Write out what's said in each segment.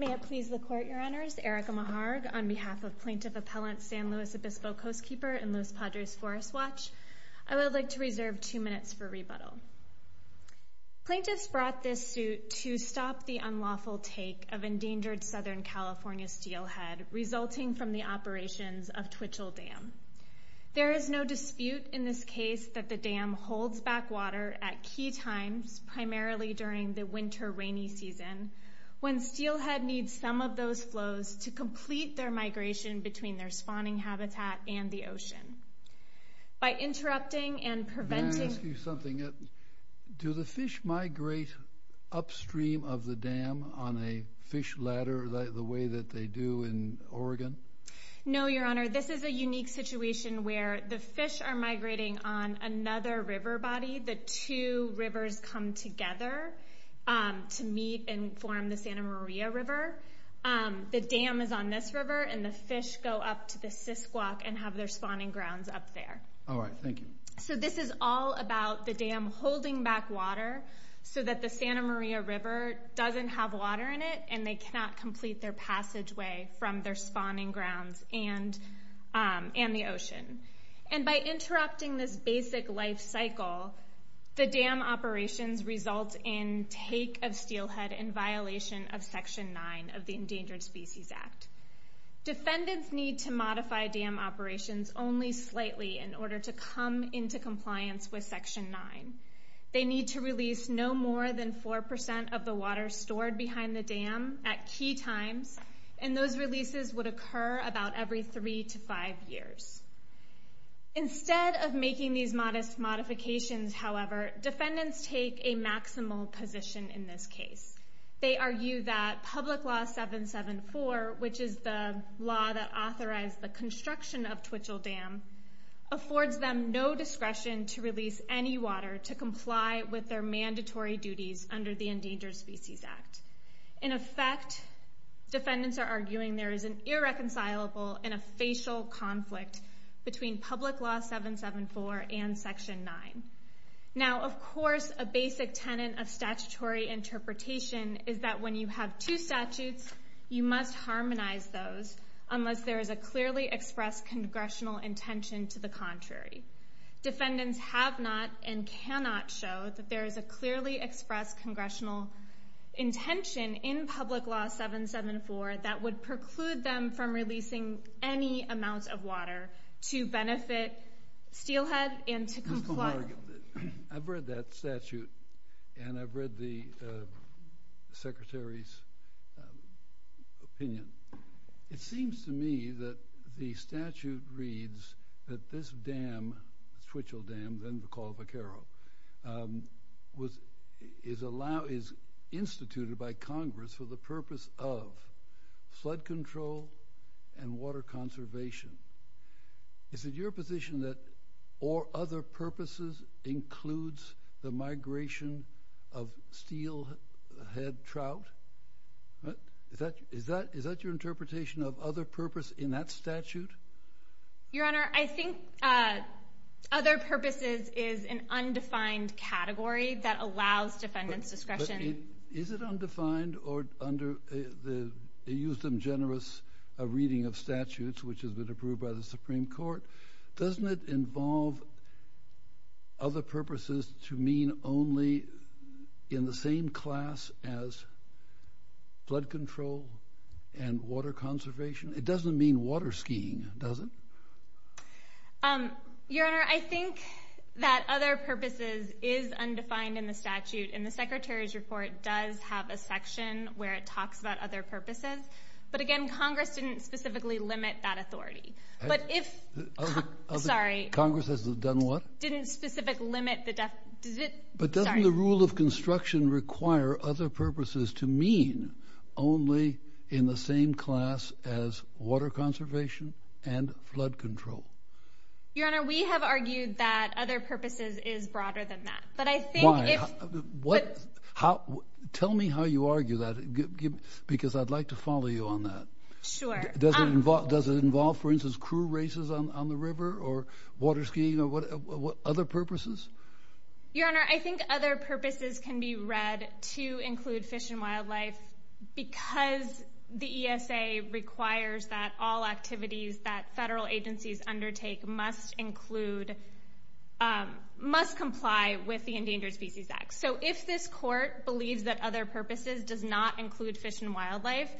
May it please the Court, Your Honors, Erica Meharg, on behalf of Plaintiff Appellant San Luis Obispo Coastkeeper and Los Padres Forest Watch, I would like to reserve two minutes for rebuttal. Plaintiffs brought this suit to stop the unlawful take of endangered Southern California steelhead resulting from the operations of Twitchell Dam. There is no dispute in this case that the dam holds back water at key times, primarily during the winter rainy season, when steelhead needs some of those flows to complete their migration between their spawning habitat and the ocean. By interrupting and preventing- May I ask you something? Do the fish migrate upstream of the dam on a fish ladder the way that they do in Oregon? No, Your Honor, this is a unique situation where the fish are migrating on another river body. The two rivers come together to meet and form the Santa Maria River. The dam is on this river and the fish go up to the Cisquak and have their spawning grounds up there. All right, thank you. This is all about the dam holding back water so that the Santa Maria River doesn't have water in it and they cannot complete their passageway from their spawning grounds and the ocean. By interrupting this basic life cycle, the dam operations result in take of steelhead in violation of Section 9 of the Endangered Species Act. Defendants need to modify dam operations only slightly in order to come into compliance with Section 9. They need to release no more than 4% of the water stored behind the dam at key times, and those releases would occur about every three to five years. Instead of making these modest modifications, however, defendants take a maximal position in this case. They argue that Public Law 774, which is the law that authorized the construction of Twitchell Dam, affords them no discretion to release any water to comply with their mandatory duties under the Endangered Species Act. In effect, defendants are arguing there is an irreconcilable and a facial conflict between Public Law 774 and Section 9. Now, of course, a basic tenant of statutory interpretation is that when you have two statutes, you must harmonize those unless there is a clearly expressed congressional intention to the contrary. Defendants have not and cannot show that there is a clearly expressed congressional intention in Public Law 774 that would preclude them from releasing any amount of water to benefit steelhead and to comply. I've read that statute, and I've read the Secretary's opinion. It seems to me that the statute reads that this dam, Twitchell Dam, then called Vaquero, is instituted by Congress for the purpose of flood control and water conservation. Is it your position that, or other purposes, includes the migration of steelhead trout? Is that your interpretation of other purpose in that statute? Your Honor, I think other purposes is an undefined category that allows defendants discretion. Is it undefined, or under the, you used them generous, a reading of statutes which has been approved by the Supreme Court, doesn't it involve other purposes to mean only in the same class as flood control and water conservation? It doesn't mean water skiing, does it? Your Honor, I think that other purposes is undefined in the statute, and the Secretary's report does have a section where it talks about other purposes, but again, Congress didn't specifically limit that authority. But if, sorry. Congress has done what? Didn't specific limit the, does it, sorry. But doesn't the rule of construction require other purposes to mean only in the same class as water conservation and flood control? Your Honor, we have argued that other purposes is broader than that, but I think if- Tell me how you argue that, because I'd like to follow you on that. Sure. Does it involve, for instance, crew races on the river, or water skiing, or what other purposes? Your Honor, I think other purposes can be read to include fish and wildlife because the ESA requires that all activities that federal agencies undertake must include, must comply with the Endangered Species Act. So if this court believes that other purposes does not include fish and wildlife,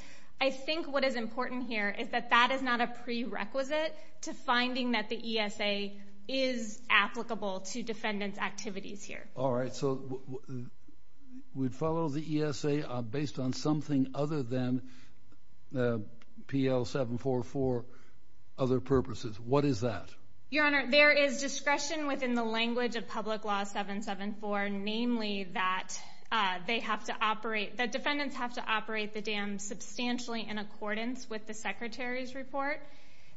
I think what is important here is that that is not a prerequisite to finding that the ESA is applicable to defendant's activities here. All right, so we'd follow the ESA based on something other than PL 744, other purposes. What is that? Your Honor, there is discretion within the language of Public Law 774, namely that they have to operate, that defendants have to operate the dam substantially in accordance with the Secretary's report.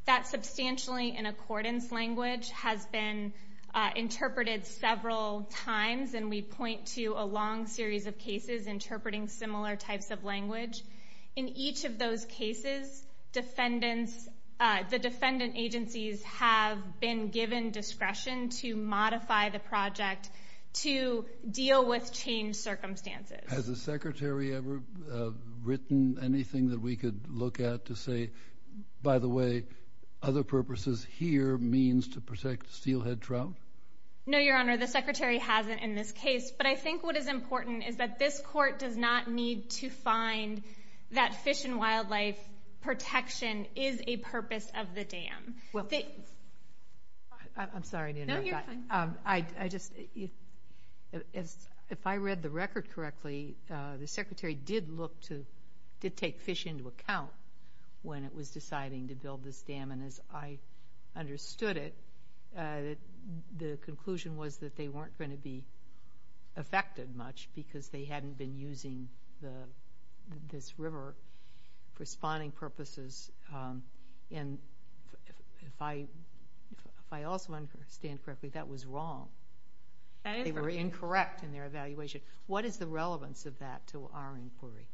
That substantially in accordance language has been interpreted several times, and we point to a long series of cases interpreting similar types of language. In each of those cases, defendants, the defendant agencies have been given discretion to modify the project to deal with changed circumstances. Has the Secretary ever written anything that we could look at to say, by the way, other purposes here means to protect steelhead trout? No, Your Honor, the Secretary hasn't in this case, but I think what is important is that this Court does not need to find that fish and wildlife protection is a purpose of the dam. I'm sorry to interrupt, but if I read the record correctly, the Secretary did take fish into account when it was deciding to build this dam, and as I understood it, the conclusion was that they weren't going to be affected much because they hadn't been using this river for spawning purposes, and if I also understand correctly, that was wrong. That is correct. They were incorrect in their evaluation. What is the relevance of that to our inquiry?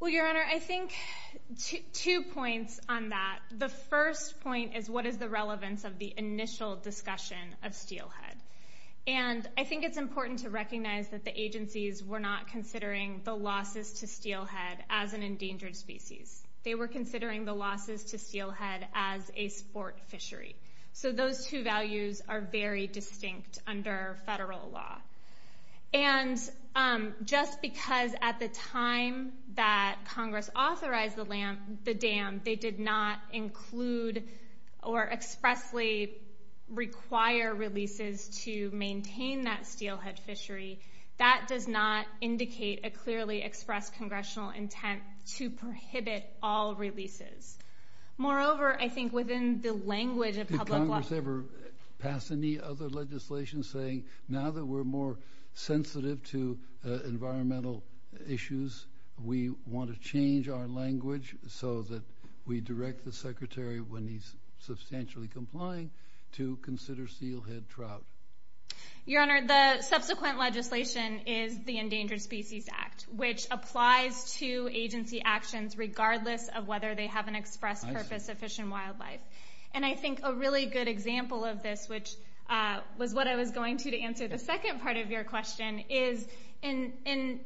Well, Your Honor, I think two points on that. The first point is, what is the relevance of the initial discussion of steelhead? I think it's important to recognize that the agencies were not considering the losses to steelhead as an endangered species. They were considering the losses to steelhead as a sport fishery. Those two values are very distinct under federal law, and just because at the time that Congress authorized the dam, they did not include or expressly require releases to maintain that steelhead fishery. That does not indicate a clearly expressed Congressional intent to prohibit all releases. Moreover, I think within the language of public law— Did Congress ever pass any other legislation saying, now that we're more sensitive to environmental issues, we want to change our language so that we direct the Secretary, when he's substantially complying, to consider steelhead trout? Your Honor, the subsequent legislation is the Endangered Species Act, which applies to agency actions regardless of whether they have an express purpose of fish and wildlife. I think a really good example of this, which was what I was going to answer the second part of your question, is in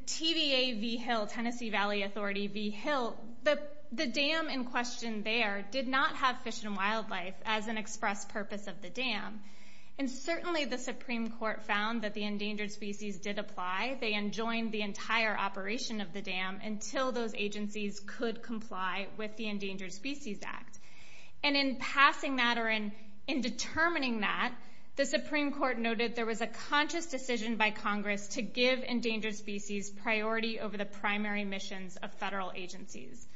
TVA v. Hill, Tennessee Valley Authority v. Hill, the dam in question there did not have fish and wildlife as an express purpose of the dam. Certainly the Supreme Court found that the endangered species did apply. They enjoined the entire operation of the dam until those agencies could comply with the Endangered Species Act. In passing that, or in determining that, the Supreme Court noted there was a conscious decision by Congress to give endangered species priority over the primary missions of federal agencies.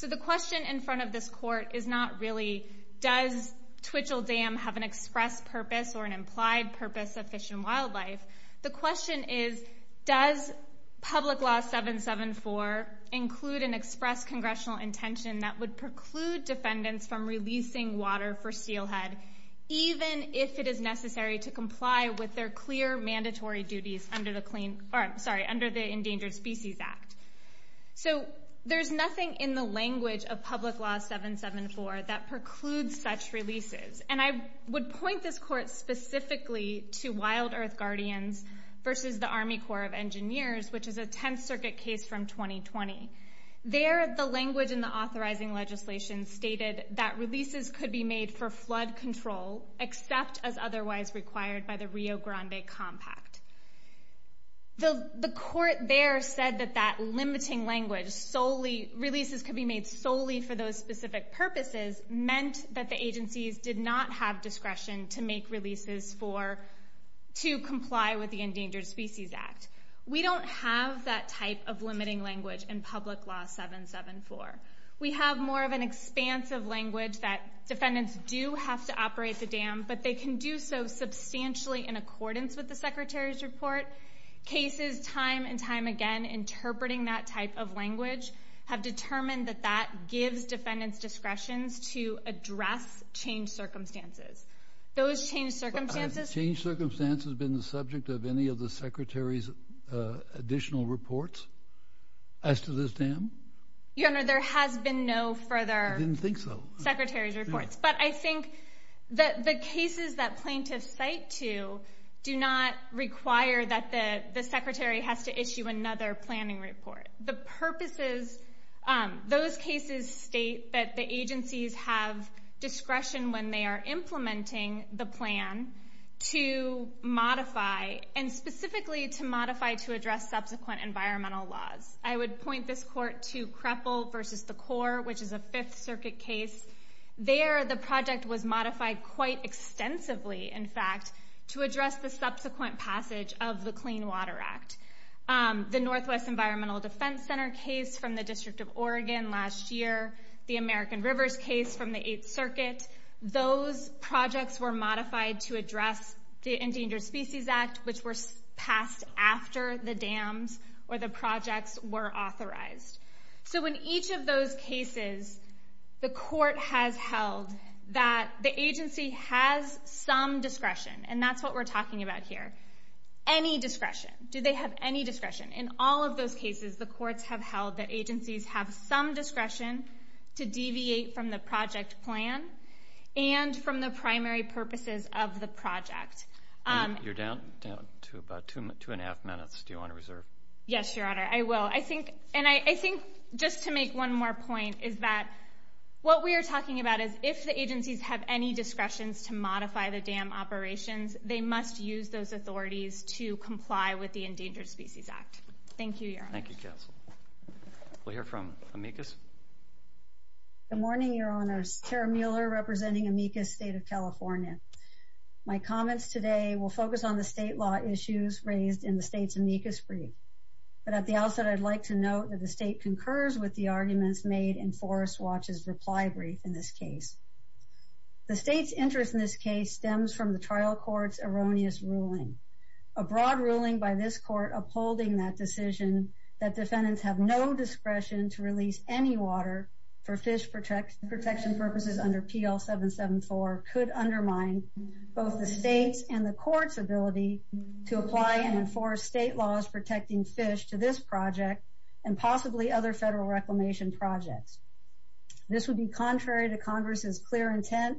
The question in front of this Court is not really, does Twitchell Dam have an express purpose or an implied purpose of fish and wildlife? The question is, does Public Law 774 include an express Congressional intention that would preclude defendants from releasing water for steelhead, even if it is necessary to comply with their clear mandatory duties under the Endangered Species Act? There's nothing in the language of Public Law 774 that precludes such releases. I would point this Court specifically to Wild Earth Guardians v. the Army Corps of Engineers, which is a Tenth Circuit case from 2020. There, the language in the authorizing legislation stated that releases could be made for flood control except as otherwise required by the Rio Grande Compact. The Court there said that that limiting language, releases could be made solely for those specific purposes, meant that the agencies did not have discretion to make releases to comply with the Endangered Species Act. We don't have that type of limiting language in Public Law 774. We have more of an expansive language that defendants do have to operate the dam, but they can do so substantially in accordance with the Secretary's report. Cases time and time again interpreting that type of language have determined that that gives defendants discretion to address changed circumstances. Those changed circumstances— Do you have any additional reports as to this dam? Your Honor, there has been no further Secretary's reports, but I think that the cases that plaintiffs cite to do not require that the Secretary has to issue another planning report. The purposes—those cases state that the agencies have discretion when they are implementing the plan to modify, and specifically to modify, to address subsequent environmental laws. I would point this Court to Kreppel v. The Corps, which is a Fifth Circuit case. There, the project was modified quite extensively, in fact, to address the subsequent passage of the Clean Water Act. The Northwest Environmental Defense Center case from the District of Oregon last year, the American Rivers case from the Eighth Circuit—those projects were modified to address the Endangered Species Act, which were passed after the dams or the projects were authorized. So in each of those cases, the Court has held that the agency has some discretion, and that's what we're talking about here. Any discretion. Do they have any discretion? In all of those cases, the courts have held that agencies have some discretion to deviate from the project plan and from the primary purposes of the project. You're down to about two and a half minutes. Do you want to reserve? Yes, Your Honor. I will. I think—and I think, just to make one more point, is that what we are talking about is if the agencies have any discretions to modify the dam operations, they must use those authorities to comply with the Endangered Species Act. Thank you, Your Honor. Thank you, Counsel. We'll hear from Amicus. Good morning, Your Honors. Tara Mueller representing Amicus State of California. My comments today will focus on the state law issues raised in the state's amicus brief. But at the outset, I'd like to note that the state concurs with the arguments made in Forest Watch's reply brief in this case. The state's interest in this case stems from the trial court's erroneous ruling. A broad ruling by this court upholding that decision that defendants have no discretion to release any water for fish protection purposes under PL 774 could undermine both the state's and the court's ability to apply and enforce state laws protecting fish to this project and possibly other federal reclamation projects. This would be contrary to Congress's clear intent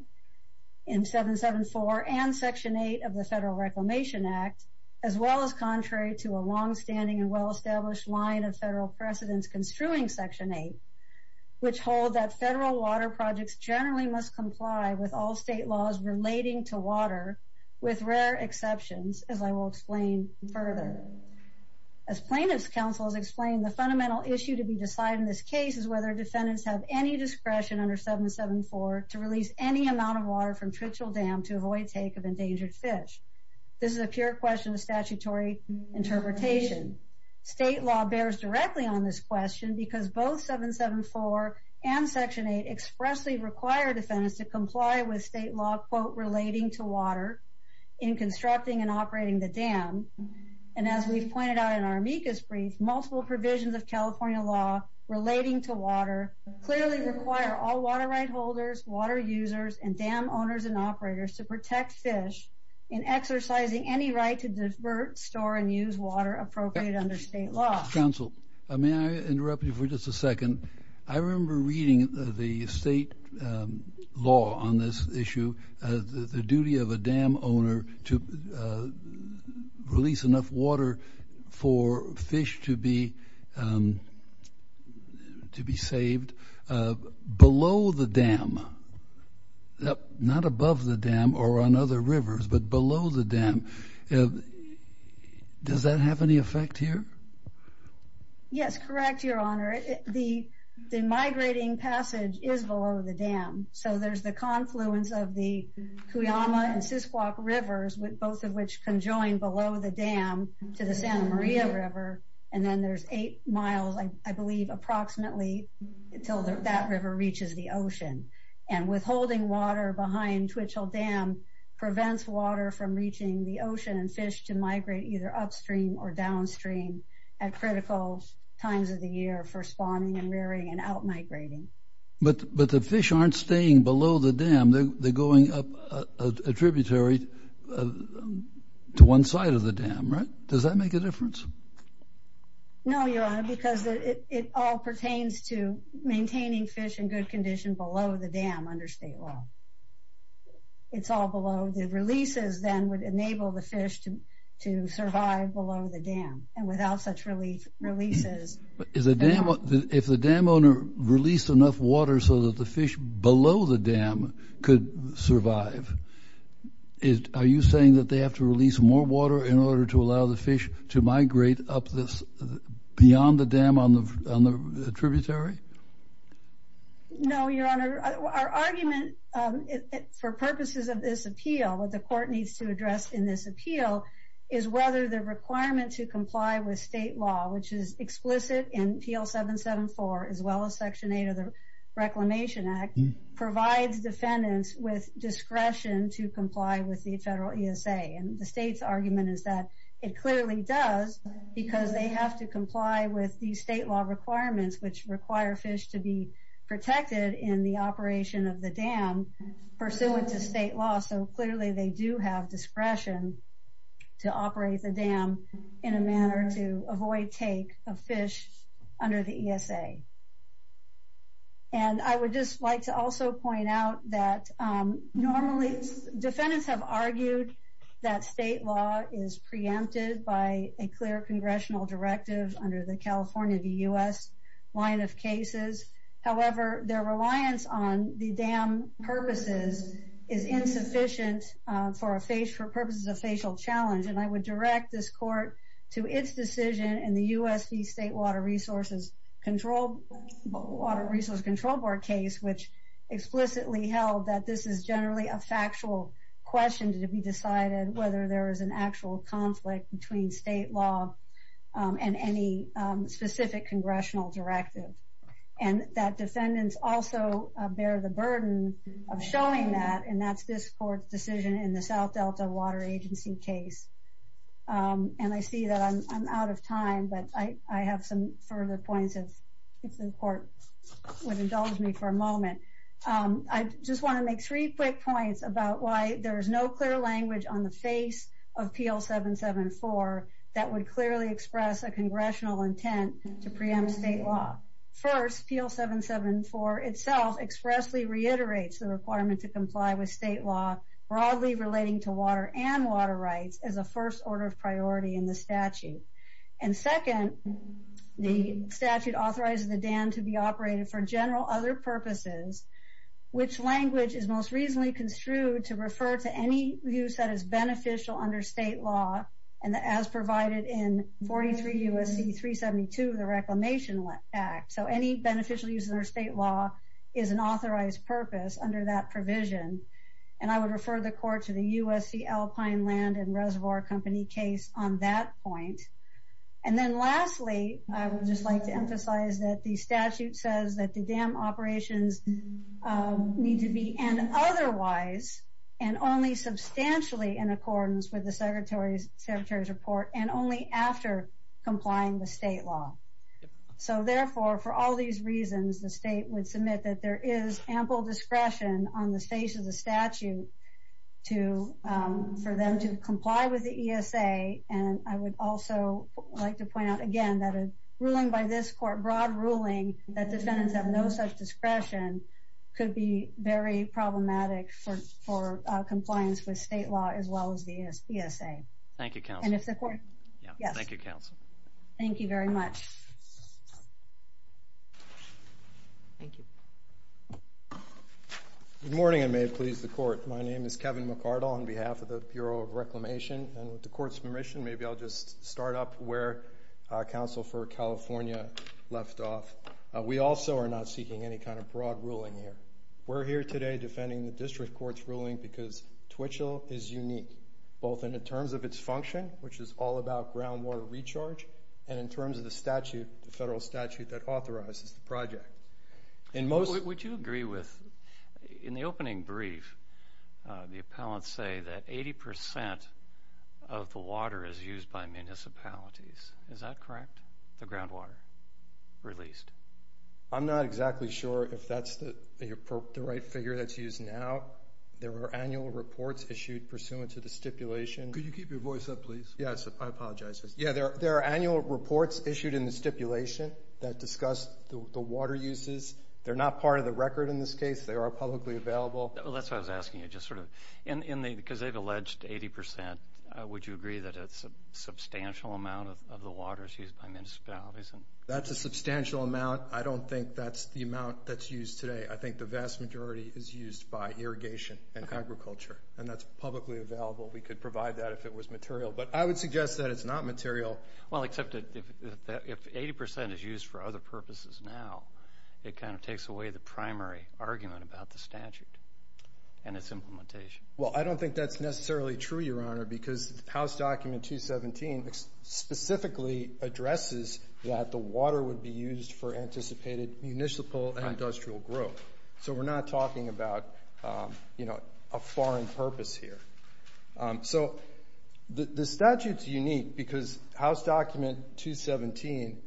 in 774 and Section 8 of the Federal Reclamation Act, as well as contrary to a longstanding and well-established line of federal precedents construing Section 8, which hold that federal water projects generally must comply with all state laws relating to water, with rare exceptions, as I will explain further. As plaintiff's counsel has explained, the fundamental issue to be decided in this case is whether defendants have any discretion under 774 to release any amount of water from Tritchell Dam to avoid take of endangered fish. This is a pure question of statutory interpretation. State law bears directly on this question because both 774 and Section 8 expressly require defendants to comply with state law, quote, relating to water in constructing and operating the dam. And as we've pointed out in our amicus brief, multiple provisions of California law relating to water clearly require all water right holders, water users, and dam owners and operators to protect fish in exercising any right to divert, store, and use water appropriate under state law. Counsel, may I interrupt you for just a second? I remember reading the state law on this issue, the duty of a dam owner to release enough water for fish to be saved below the dam, not above the dam or on other rivers, but below the dam. Does that have any effect here? Yes, correct, Your Honor. The migrating passage is below the dam. So there's the confluence of the Cuyama and Sisquauk Rivers, both of which conjoin below the dam to the Santa Maria River, and then there's eight miles, I believe, approximately until that river reaches the ocean. And withholding water behind Twitchell Dam prevents water from reaching the ocean and fish to migrate either upstream or downstream at critical times of the year for spawning and rearing and outmigrating. But the fish aren't staying below the dam, they're going up a tributary to one side of the dam, right? Does that make a difference? No, Your Honor, because it all pertains to maintaining fish in good condition below the dam under state law. It's all below. The releases then would enable the fish to survive below the dam and without such releases. If the dam owner released enough water so that the fish below the dam could survive, are you saying that they have to release more water in order to allow the fish to migrate up this beyond the dam on the tributary? No, Your Honor, our argument for purposes of this appeal, what the court needs to address in this appeal, is whether the requirement to comply with state law, which is explicit in PL 774, as well as Section 8 of the Reclamation Act, provides defendants with discretion to comply with the federal ESA. And the state's argument is that it clearly does because they have to comply with the state law requirements, which require fish to be protected in the operation of the dam pursuant to state law. So clearly they do have discretion to operate the dam in a manner to avoid take of fish under the ESA. And I would just like to also point out that normally defendants have argued that state law is preempted by a clear congressional directive under the California, the U.S. line of cases. However, their reliance on the dam purposes is insufficient for purposes of facial challenge. And I would direct this court to its decision in the U.S. State Water Resources Control Board case, which explicitly held that this is generally a factual question to be decided, whether there is an actual conflict between state law and any specific congressional directive, and that defendants also bear the burden of the state law. And I see that I'm out of time, but I have some further points if the court would indulge me for a moment. I just want to make three quick points about why there is no clear language on the face of PL 774 that would clearly express a congressional intent to preempt state law. First, PL 774 itself expressly reiterates the requirement to comply with state law broadly relating to water and water rights as a first order of priority in the statute. And second, the statute authorizes the dam to be operated for general other purposes, which language is most reasonably construed to refer to any use that is beneficial under state law and as provided in 43 U.S.C. 372 of the Reclamation Act. So any beneficial use under state law is an authorized purpose under that provision. And I would refer the court to the U.S.C. Alpine Land and Reservoir Company case on that point. And then lastly, I would just like to emphasize that the statute says that the dam operations need to be, and otherwise, and only substantially in accordance with the secretary's report and only after complying with state law. So therefore, for all these reasons, the state would submit that there is ample discretion on the face of the statute for them to comply with the ESA. And I would also like to point out again that a ruling by this court, broad ruling that defendants have no such discretion could be very problematic for compliance with state law as well as the ESA. Thank you, counsel. And if the court... Yes. Thank you, counsel. Thank you very much. Thank you. Good morning, and may it please the court. My name is Kevin McArdle on behalf of the Bureau of Reclamation. And with the court's permission, maybe I'll just start up where counsel for California left off. We also are not seeking any kind of broad ruling here. We're here today defending the district court's ruling because Twitchell is unique, both in the terms of its function, which is all about groundwater recharge, and in terms of the statute, the federal statute that authorizes the project. Would you agree with... In the opening brief, the appellants say that 80% of the water is used by municipalities. Is that correct, the groundwater released? I'm not exactly sure if that's the right figure that's used now. There were annual reports issued pursuant to the stipulation. Could you keep your voice up, please? Yes. I apologize. Yeah, there are annual reports issued in the stipulation that discuss the water uses. They're not part of the record in this case. They are publicly available. That's why I was asking you, just sort of, because they've alleged 80%. Would you agree that it's a substantial amount of the water is used by municipalities? That's a substantial amount. I don't think that's the amount that's used today. I think the vast majority is used by irrigation and agriculture, and that's publicly available. We could provide that if it was material. I would suggest that it's not material. Well, except that if 80% is used for other purposes now, it kind of takes away the primary argument about the statute and its implementation. Well, I don't think that's necessarily true, Your Honor, because House Document 217 specifically addresses that the water would be used for anticipated municipal and industrial growth. We're not talking about a foreign purpose here. So the statute's unique because House Document 217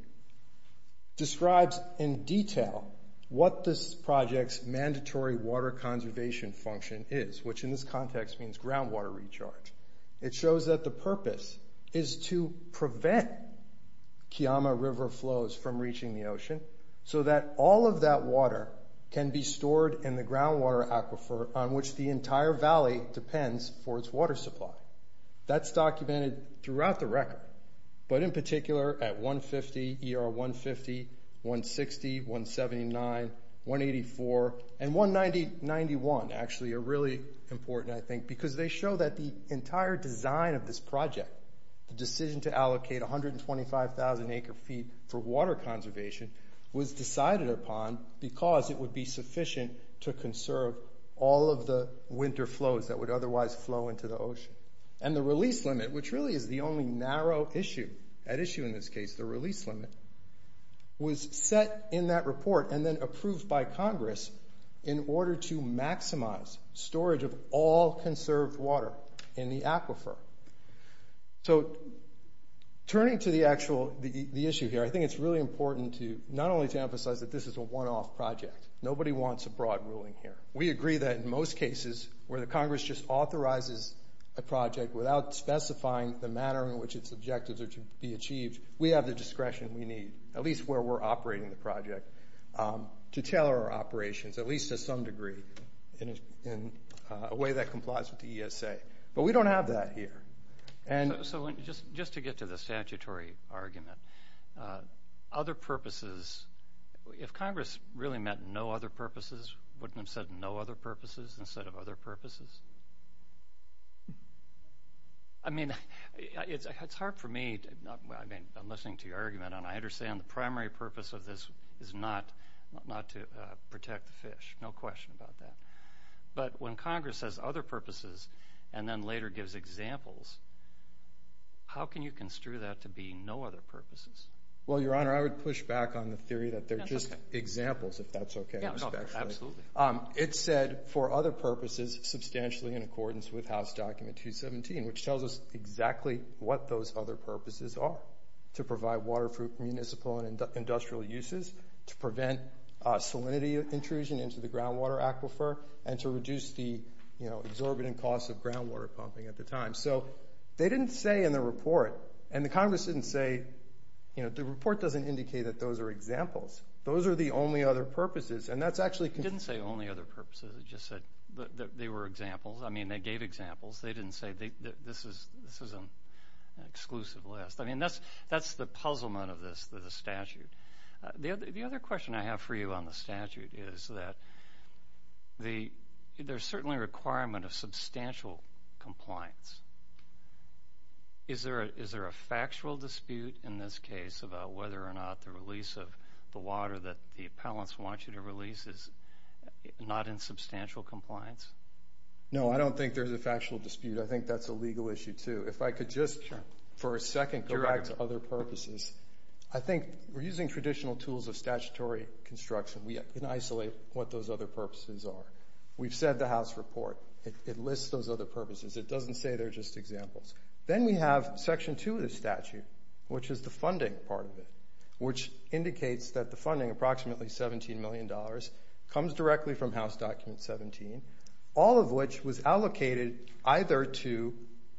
describes in detail what this project's mandatory water conservation function is, which in this context means groundwater recharge. It shows that the purpose is to prevent Kiama River flows from reaching the ocean so that all of that water can be stored in the groundwater aquifer on which the entire valley depends for its water supply. That's documented throughout the record, but in particular at 150, ER 150, 160, 179, 184, and 191 actually are really important, I think, because they show that the entire design of this project, the decision to allocate 125,000 acre-feet for water conservation, was decided upon because it would be sufficient to conserve all of the winter flows that would otherwise flow into the ocean. And the release limit, which really is the only narrow issue at issue in this case, the release limit, was set in that report and then approved by Congress in order to maximize storage of all conserved water in the aquifer. So turning to the actual issue here, I think it's really important not only to emphasize that this is a one-off project. Nobody wants a broad ruling here. We agree that in most cases where the Congress just authorizes a project without specifying the manner in which its objectives are to be achieved, we have the discretion we need, at least where we're operating the project, to tailor our operations, at least to some degree, in a way that complies with the ESA. But we don't have that here. So just to get to the statutory argument, other purposes, if Congress really meant no other purposes, wouldn't it have said no other purposes instead of other purposes? I mean, it's hard for me, I mean, I'm listening to your argument and I understand the primary purpose of this is not to protect the fish, no question about that. But when Congress says other purposes and then later gives examples, how can you construe that to being no other purposes? Well, Your Honor, I would push back on the theory that they're just examples, if that's okay. Absolutely. It said for other purposes, substantially in accordance with House Document 217, which tells us exactly what those other purposes are, to provide water for municipal and industrial uses, to prevent salinity intrusion into the groundwater aquifer, and to reduce the exorbitant costs of groundwater pumping at the time. So they didn't say in the report, and the Congress didn't say, the report doesn't indicate that those are examples. Those are the only other purposes. And that's actually- It didn't say only other purposes, it just said that they were examples. I mean, they gave examples, they didn't say this is an exclusive list. I mean, that's the puzzlement of this statute. The other question I have for you on the statute is that there's certainly a requirement of substantial compliance. Is there a factual dispute in this case about whether or not the release of the water that the appellants want you to release is not in substantial compliance? No, I don't think there's a factual dispute. I think that's a legal issue, too. If I could just, for a second, go back to other purposes. I think we're using traditional tools of statutory construction. We can isolate what those other purposes are. We've said the House report, it lists those other purposes. It doesn't say they're just examples. Then we have section two of the statute, which is the funding part of it, which indicates that the funding, approximately $17 million, comes directly from House Document 17, all of which was allocated either to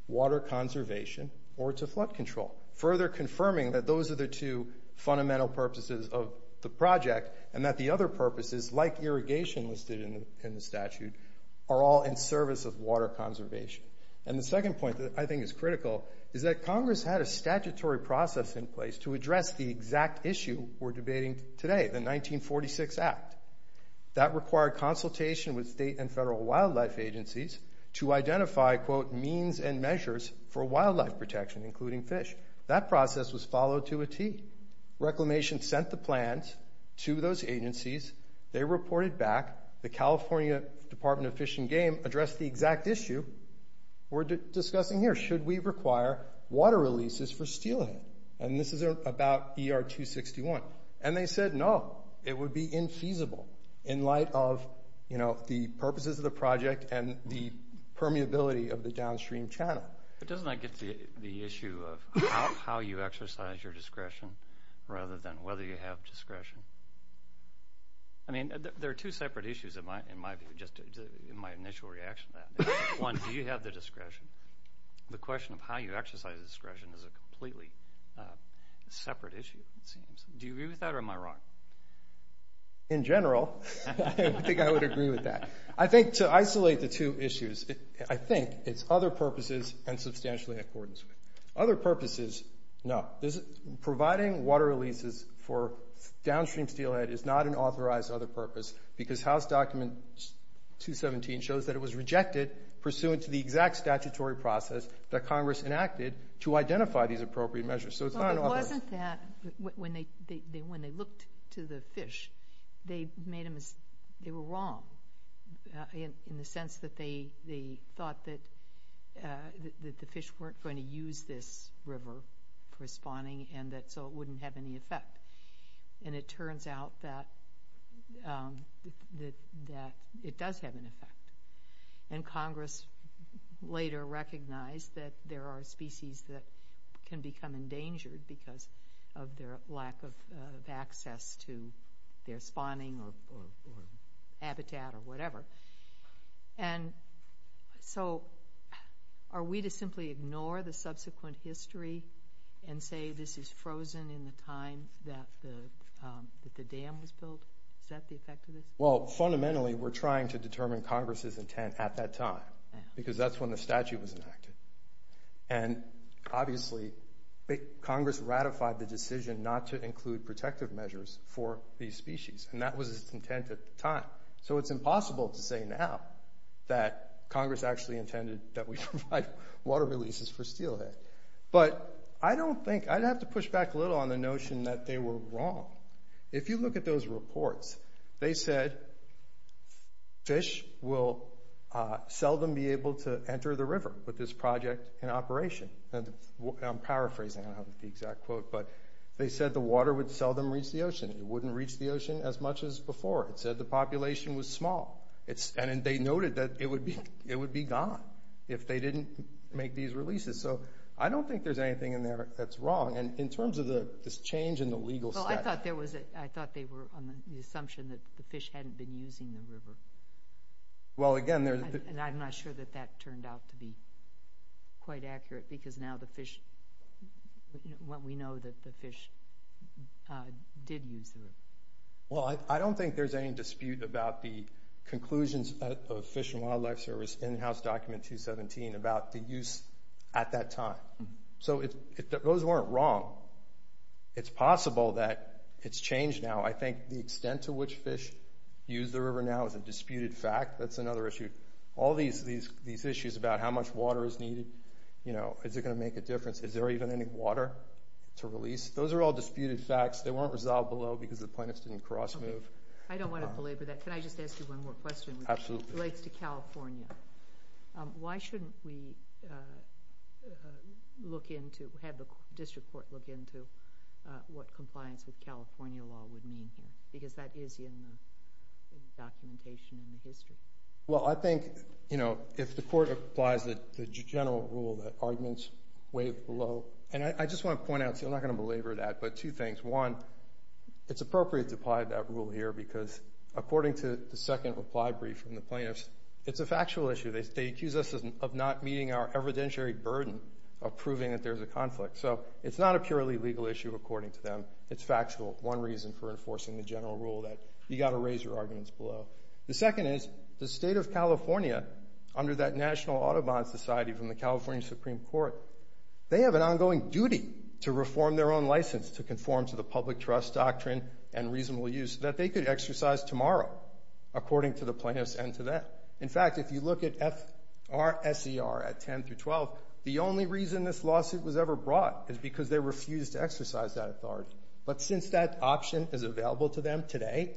water conservation or to flood control, further confirming that those are the two fundamental purposes of the project and that the other purposes, like irrigation listed in the statute, are all in service of water conservation. The second point that I think is critical is that Congress had a statutory process in place to address the exact issue we're debating today, the 1946 Act. That required consultation with state and federal wildlife agencies to identify, quote, means and measures for wildlife protection, including fish. That process was followed to a T. Reclamation sent the plans to those agencies. They reported back. The California Department of Fish and Game addressed the exact issue we're discussing here. Should we require water releases for stealing? And this is about ER 261. And they said no. It would be infeasible in light of the purposes of the project and the permeability of the downstream channel. But doesn't that get to the issue of how you exercise your discretion rather than whether you have discretion? I mean, there are two separate issues, in my view, just in my initial reaction to that. One, do you have the discretion? Do you agree with that or am I wrong? In general, I think I would agree with that. I think to isolate the two issues, I think it's other purposes and substantially in accordance with. Other purposes, no. Providing water releases for downstream steelhead is not an authorized other purpose because House Document 217 shows that it was rejected pursuant to the exact statutory process that Congress enacted to identify these appropriate measures. So it's not an authorized. Wasn't that, when they looked to the fish, they were wrong in the sense that they thought that the fish weren't going to use this river for spawning and so it wouldn't have any effect. And it turns out that it does have an effect. And Congress later recognized that there are species that can become endangered because of their lack of access to their spawning or habitat or whatever. And so are we to simply ignore the subsequent history and say this is frozen in the time that the dam was built, is that the effect of this? Well, fundamentally, we're trying to determine Congress's intent at that time because that's when the statute was enacted. And obviously, Congress ratified the decision not to include protective measures for these species and that was its intent at the time. So it's impossible to say now that Congress actually intended that we provide water releases for steelhead. But I don't think, I'd have to push back a little on the notion that they were wrong. If you look at those reports, they said fish will seldom be able to enter the river with this project in operation. I'm paraphrasing, I don't have the exact quote, but they said the water would seldom reach the ocean. It wouldn't reach the ocean as much as before. It said the population was small. And they noted that it would be gone if they didn't make these releases. So I don't think there's anything in there that's wrong. And in terms of this change in the legal statute... Well, I thought there was a... I thought they were on the assumption that the fish hadn't been using the river. Well, again, there's... And I'm not sure that that turned out to be quite accurate because now the fish, well, we know that the fish did use the river. Well, I don't think there's any dispute about the conclusions of Fish and Wildlife Service in-house document 217 about the use at that time. So if those weren't wrong, it's possible that it's changed now. I think the extent to which fish use the river now is a disputed fact. That's another issue. All these issues about how much water is needed, you know, is it going to make a difference? Is there even any water to release? Those are all disputed facts. They weren't resolved below because the plaintiffs didn't cross-move. I don't want to belabor that. Can I just ask you one more question? Absolutely. It relates to California. Why shouldn't we look into, have the district court look into what compliance with California law would mean here? Because that is in the documentation in the history. Well, I think, you know, if the court applies the general rule that arguments way below... And I just want to point out, see, I'm not going to belabor that, but two things. One, it's appropriate to apply that rule here because according to the second reply brief from the plaintiffs, it's a factual issue. They accuse us of not meeting our evidentiary burden of proving that there's a conflict. So, it's not a purely legal issue according to them. It's factual. One reason for enforcing the general rule that you got to raise your arguments below. The second is the state of California, under that National Audubon Society from the California Supreme Court, they have an ongoing duty to reform their own license to conform to the public trust doctrine and reasonable use that they could exercise tomorrow according to the plaintiffs and to that. In fact, if you look at FRSER at 10 through 12, the only reason this lawsuit was ever brought is because they refused to exercise that authority. But since that option is available to them today,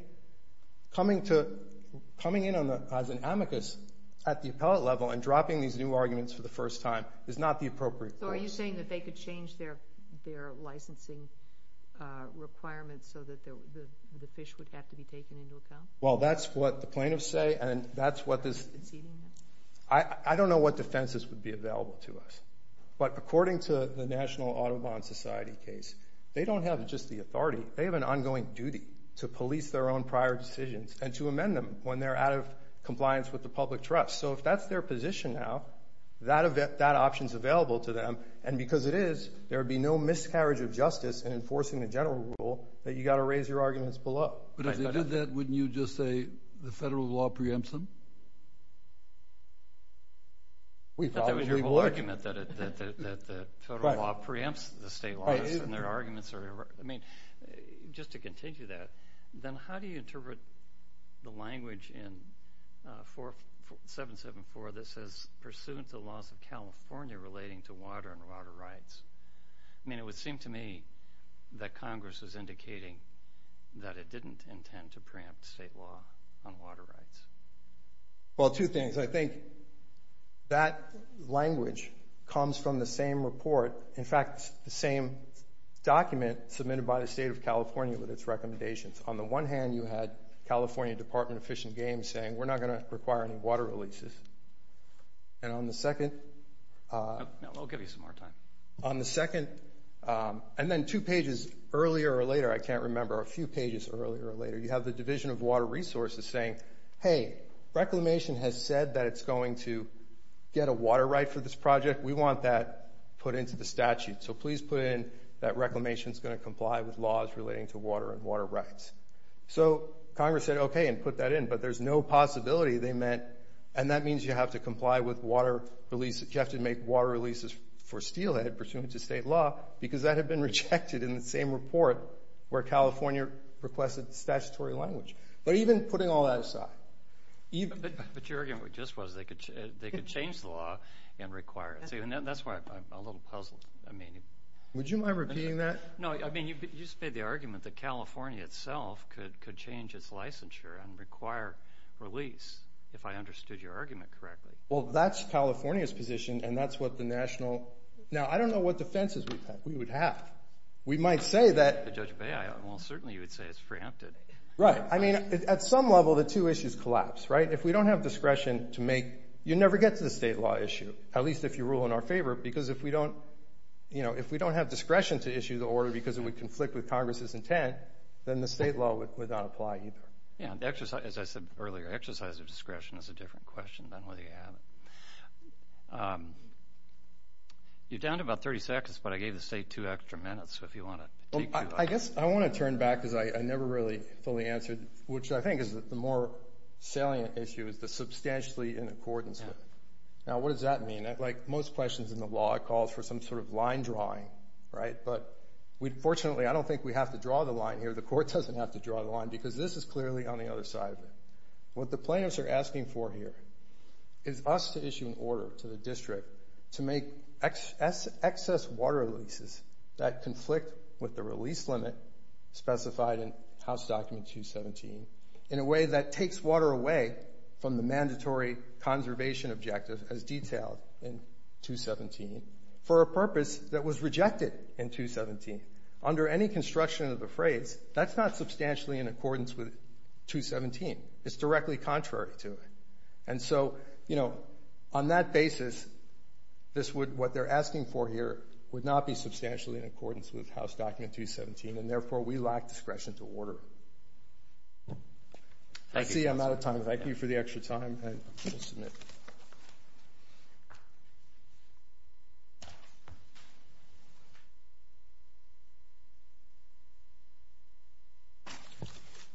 coming in as an amicus at the appellate level and dropping these new arguments for the first time is not the appropriate course. So, are you saying that they could change their licensing requirements so that the fish would have to be taken into account? Well, that's what the plaintiffs say and that's what this... I don't know what defenses would be available to us. But according to the National Audubon Society case, they don't have just the authority. They have an ongoing duty to police their own prior decisions and to amend them when they're out of compliance with the public trust. So, if that's their position now, that option is available to them and because it is, there would be no miscarriage of justice in enforcing the general rule that you got to raise your arguments below. But if they did that, wouldn't you just say the federal law preempts them? We probably would. But that was your whole argument that the federal law preempts the state laws and their arguments are... I mean, just to continue that, then how do you interpret the language in 4774 that says pursuant to the laws of California relating to water and water rights? I mean, it would seem to me that Congress was indicating that it didn't intend to preempt state law on water rights. Well, two things. I think that language comes from the same report, in fact, the same document submitted by the state of California with its recommendations. On the one hand, you had California Department of Fish and Game saying, we're not going to require any water releases. And on the second... I'll give you some more time. On the second... And then two pages earlier or later, I can't remember, or a few pages earlier or later, you have the Division of Water Resources saying, hey, Reclamation has said that it's going to get a water right for this project. We want that put into the statute. So please put in that Reclamation's going to comply with laws relating to water and water rights. So Congress said, okay, and put that in. But there's no possibility they meant... And that means you have to comply with water release... Because that had been rejected in the same report where California requested statutory language. But even putting all that aside... But your argument just was they could change the law and require it. And that's why I'm a little puzzled. Would you mind repeating that? No, I mean, you just made the argument that California itself could change its licensure and require release, if I understood your argument correctly. Well, that's California's position, and that's what the national... Now, I don't know what defenses we would have. We might say that... The Judge of Bay Aisle, well, certainly you would say it's preempted. Right. I mean, at some level, the two issues collapse, right? If we don't have discretion to make... You never get to the state law issue, at least if you rule in our favor, because if we don't have discretion to issue the order because it would conflict with Congress's intent, then the state law would not apply either. Yeah, as I said earlier, exercise of discretion is a different question than whether you have it. You're down to about 30 seconds, but I gave the state two extra minutes, so if you want to... I guess I want to turn back because I never really fully answered, which I think is that the more salient issue is the substantially in accordance with. Now, what does that mean? Like most questions in the law, it calls for some sort of line drawing, right? But fortunately, I don't think we have to draw the line here. The court doesn't have to draw the line because this is clearly on the other side of it. What the plaintiffs are asking for here is us to issue an order to the district to make excess water leases that conflict with the release limit specified in House Document 217 in a way that takes water away from the mandatory conservation objective as detailed in 217 for a purpose that was rejected in 217. Under any construction of the phrase, that's not substantially in accordance with 217. It's directly contrary to it. And so, you know, on that basis, this would... what they're asking for here would not be substantially in accordance with House Document 217, and therefore, we lack discretion to order. I see I'm out of time. Thank you for the extra time, and I'll submit. Thank you.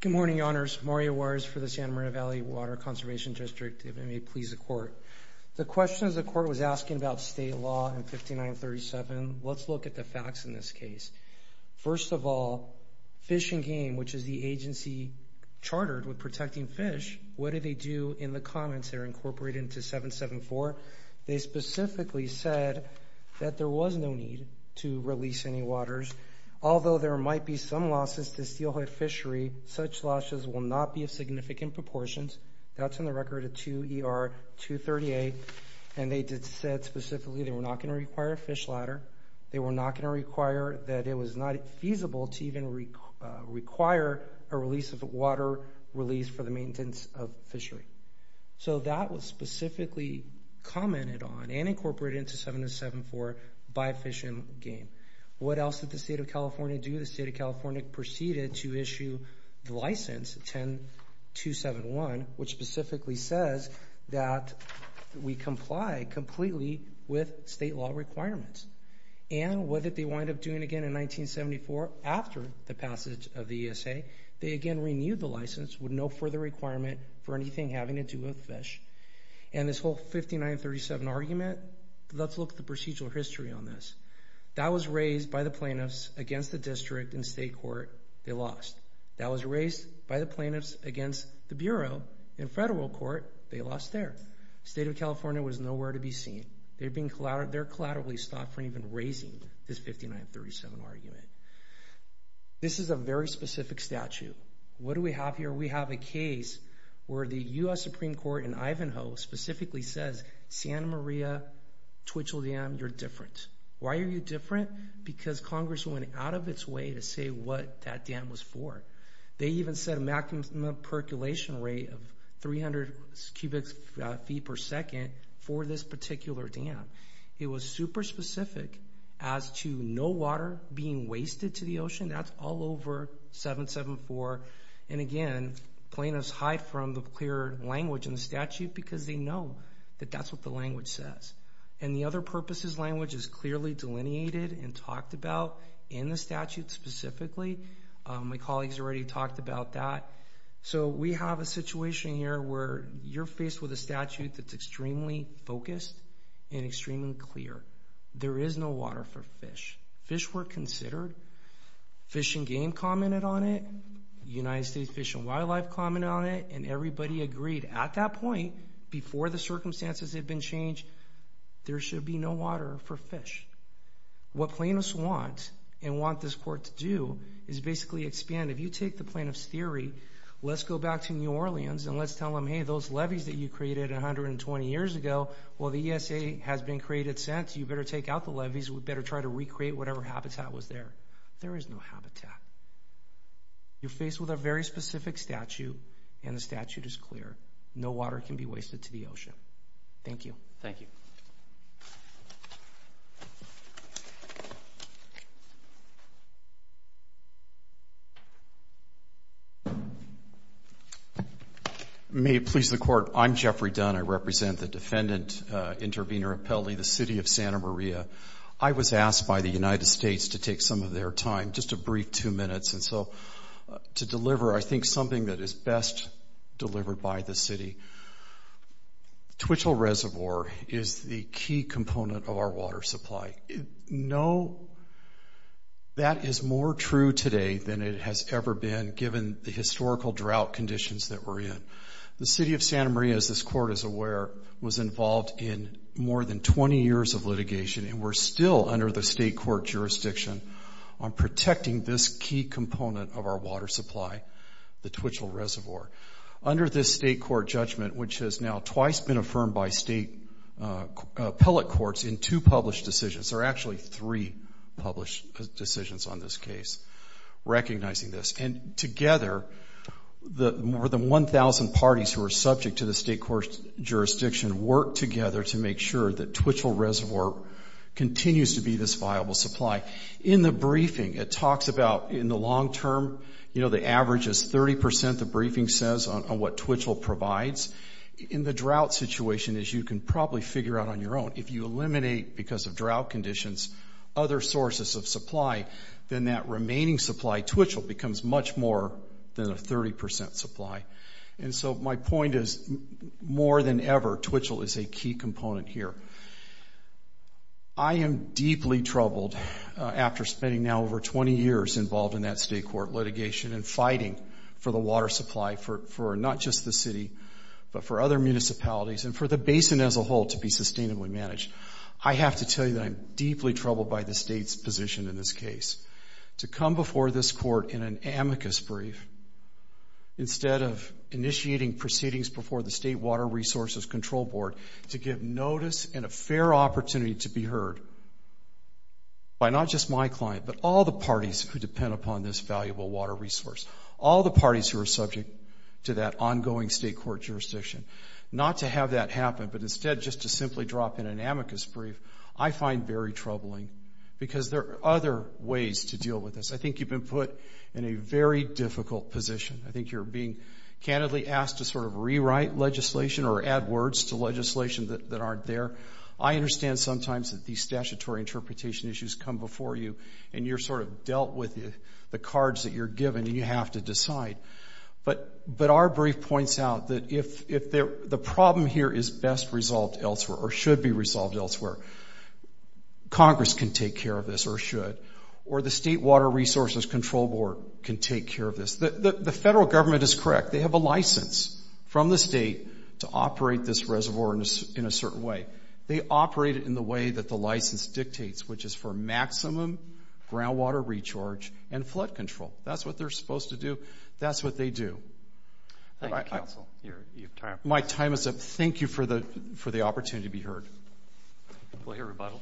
Good morning, Your Honors. Mario Juarez for the Santa Maria Valley Water Conservation District. If it may please the Court. The questions the Court was asking about state law in 5937, let's look at the facts in this case. First of all, Fish and Game, which is the agency chartered with protecting fish, what did they do in the comments that are incorporated into 774? They specifically said that there was no need to release any waters. Although there might be some losses to steelhead fishery, such losses will not be of significant proportions. That's in the record of 2 ER 238. And they did say specifically they were not going to require a fish ladder. They were not going to require that it was not feasible to even require a release of water for the maintenance of fishery. So that was specifically commented on and incorporated into 7074 by Fish and Game. What else did the State of California do? The State of California proceeded to issue the license 10271, which specifically says that we comply completely with state law requirements. And what did they wind up doing again in 1974 after the passage of the ESA? They again renewed the license with no further requirement for anything having to do with fish. And this whole 5937 argument, let's look at the procedural history on this. That was raised by the plaintiffs against the district in state court. They lost. That was raised by the plaintiffs against the Bureau in federal court. They lost there. The State of California was nowhere to be seen. They're collaterally stopped from even raising this 5937 argument. This is a very specific statute. What do we have here? We have a case where the U.S. Supreme Court in Ivanhoe specifically says, Santa Maria Twitchell Dam, you're different. Why are you different? Because Congress went out of its way to say what that dam was for. They even set a maximum percolation rate of 300 cubic feet per second for this particular dam. It was super specific as to no water being wasted to the ocean. That's all over 774. And again, plaintiffs hide from the clear language in the statute because they know that that's what the language says. And the other purposes language is clearly delineated and talked about in the statute specifically. My colleagues already talked about that. So we have a situation here where you're faced with a statute that's extremely focused and extremely clear. There is no water for fish. Fish were considered. Fish and Game commented on it. United States Fish and Wildlife commented on it. And everybody agreed at that point, before the circumstances had been changed, there should be no water for fish. What plaintiffs want and want this court to do is basically expand. If you take the plaintiffs' theory, let's go back to New Orleans and let's tell them, hey, those levees that you created 120 years ago, well, the ESA has been created since. You better take out the levees. We better try to recreate whatever habitat was there. There is no habitat. You're faced with a very specific statute, and the statute is clear. No water can be wasted to the ocean. Thank you. Thank you. May it please the Court, I'm Jeffrey Dunn. I represent the defendant, Intervenor Appelli, the City of Santa Maria. I was asked by the United States to take some of their time, just a brief two minutes, and so to deliver I think something that is best delivered by the city. Twitchell Reservoir is the key component of our water supply. No, that is more true today than it has ever been, given the historical drought conditions that we're in. The City of Santa Maria, as this court is aware, was involved in more than 20 years of litigation, and we're still under the state court jurisdiction on protecting this key component of our water supply, the Twitchell Reservoir. Under this state court judgment, which has now twice been affirmed by state appellate courts in two published decisions, or actually three published decisions on this case, recognizing this, and together more than 1,000 parties who are subject to the state court jurisdiction work together to make sure that Twitchell Reservoir continues to be this viable supply. In the briefing, it talks about in the long term, you know, the average is 30%, the briefing says, on what Twitchell provides. In the drought situation, as you can probably figure out on your own, if you eliminate, because of drought conditions, other sources of supply, then that remaining supply, Twitchell, becomes much more than a 30% supply. And so my point is, more than ever, Twitchell is a key component here. I am deeply troubled after spending now over 20 years involved in that state court litigation and fighting for the water supply for not just the city, but for other municipalities, and for the basin as a whole to be sustainably managed. I have to tell you that I'm deeply troubled by the state's position in this case. To come before this court in an amicus brief, instead of initiating proceedings before the State Water Resources Control Board to give notice and a fair opportunity to be heard by not just my client, but all the parties who depend upon this valuable water resource, all the parties who are subject to that ongoing state court jurisdiction, not to have that happen, but instead just to simply drop in an amicus brief, I find very troubling, because there are other ways to deal with this. I think you've been put in a very difficult position. I think you're being candidly asked to sort of rewrite legislation or add words to legislation that aren't there. I understand sometimes that these statutory interpretation issues come before you, and you're sort of dealt with the cards that you're given, and you have to decide. But our brief points out that if the problem here is best resolved elsewhere or should be resolved elsewhere, Congress can take care of this or should, or the State Water Resources Control Board can take care of this. The federal government is correct. They have a license from the state to operate this reservoir in a certain way. They operate it in the way that the license dictates, which is for maximum groundwater recharge and flood control. That's what they're supposed to do. That's what they do. My time is up. Thank you for the opportunity to be heard. We'll hear rebuttal.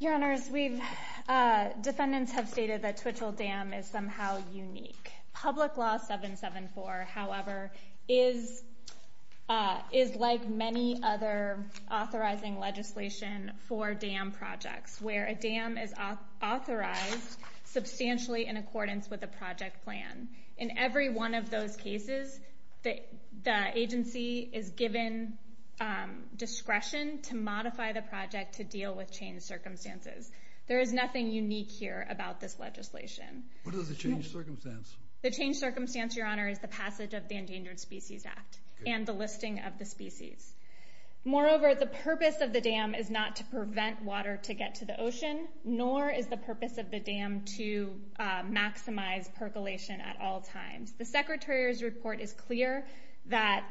Your Honors, defendants have stated that Twitchell Dam is somehow unique. Public Law 774, however, is like many other authorizing legislation for dam projects, where a dam is authorized substantially in accordance with a project plan. In every one of those cases, the agency is given discretion to modify the project to deal with changed circumstances. There is nothing unique here about this legislation. What is the changed circumstance? The changed circumstance, Your Honor, is the passage of the Endangered Species Act and the listing of the species. Moreover, the purpose of the dam is not to prevent water to get to the ocean, nor is the purpose of the dam to maximize percolation at all times. The Secretary's report is clear that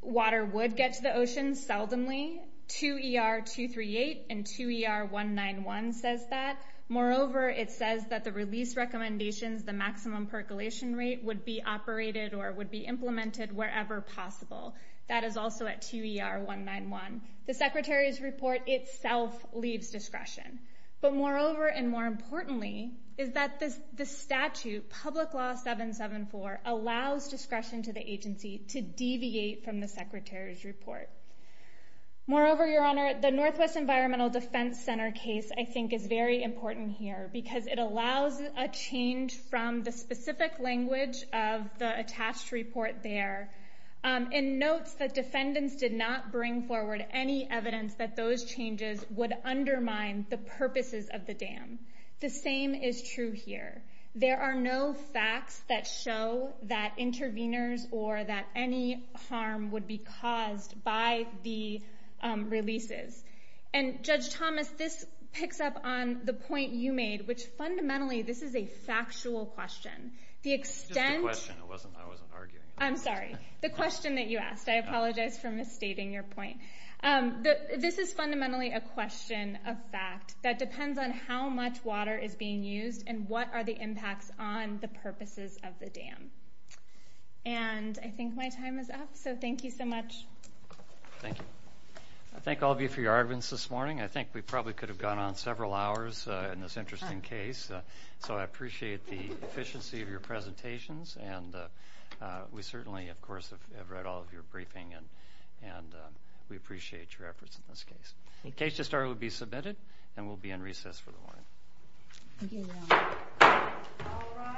water would get to the ocean, seldomly. 2ER-238 and 2ER-191 says that. Moreover, it says that the release recommendations, the maximum percolation rate, would be operated or would be implemented wherever possible. That is also at 2ER-191. The Secretary's report itself leaves discretion. But moreover and more importantly is that the statute, Public Law 774, allows discretion to the agency to deviate from the Secretary's report. Moreover, Your Honor, the Northwest Environmental Defense Center case, I think, is very important here because it allows a change from the specific language of the attached report there. It notes that defendants did not bring forward any evidence that those changes would undermine the purposes of the dam. The same is true here. There are no facts that show that interveners or that any harm would be caused by the releases. And Judge Thomas, this picks up on the point you made, which fundamentally this is a factual question. Just a question. I wasn't arguing. I'm sorry. The question that you asked. I apologize for misstating your point. This is fundamentally a question of fact that depends on how much water is being used and what are the impacts on the purposes of the dam. And I think my time is up, so thank you so much. Thank you. I thank all of you for your arguments this morning. I think we probably could have gone on several hours in this interesting case, so I appreciate the efficiency of your presentations, and we certainly, of course, have read all of your briefing, and we appreciate your efforts in this case. The case to start will be submitted, and we'll be in recess for the morning. Thank you. All rise. Thank you.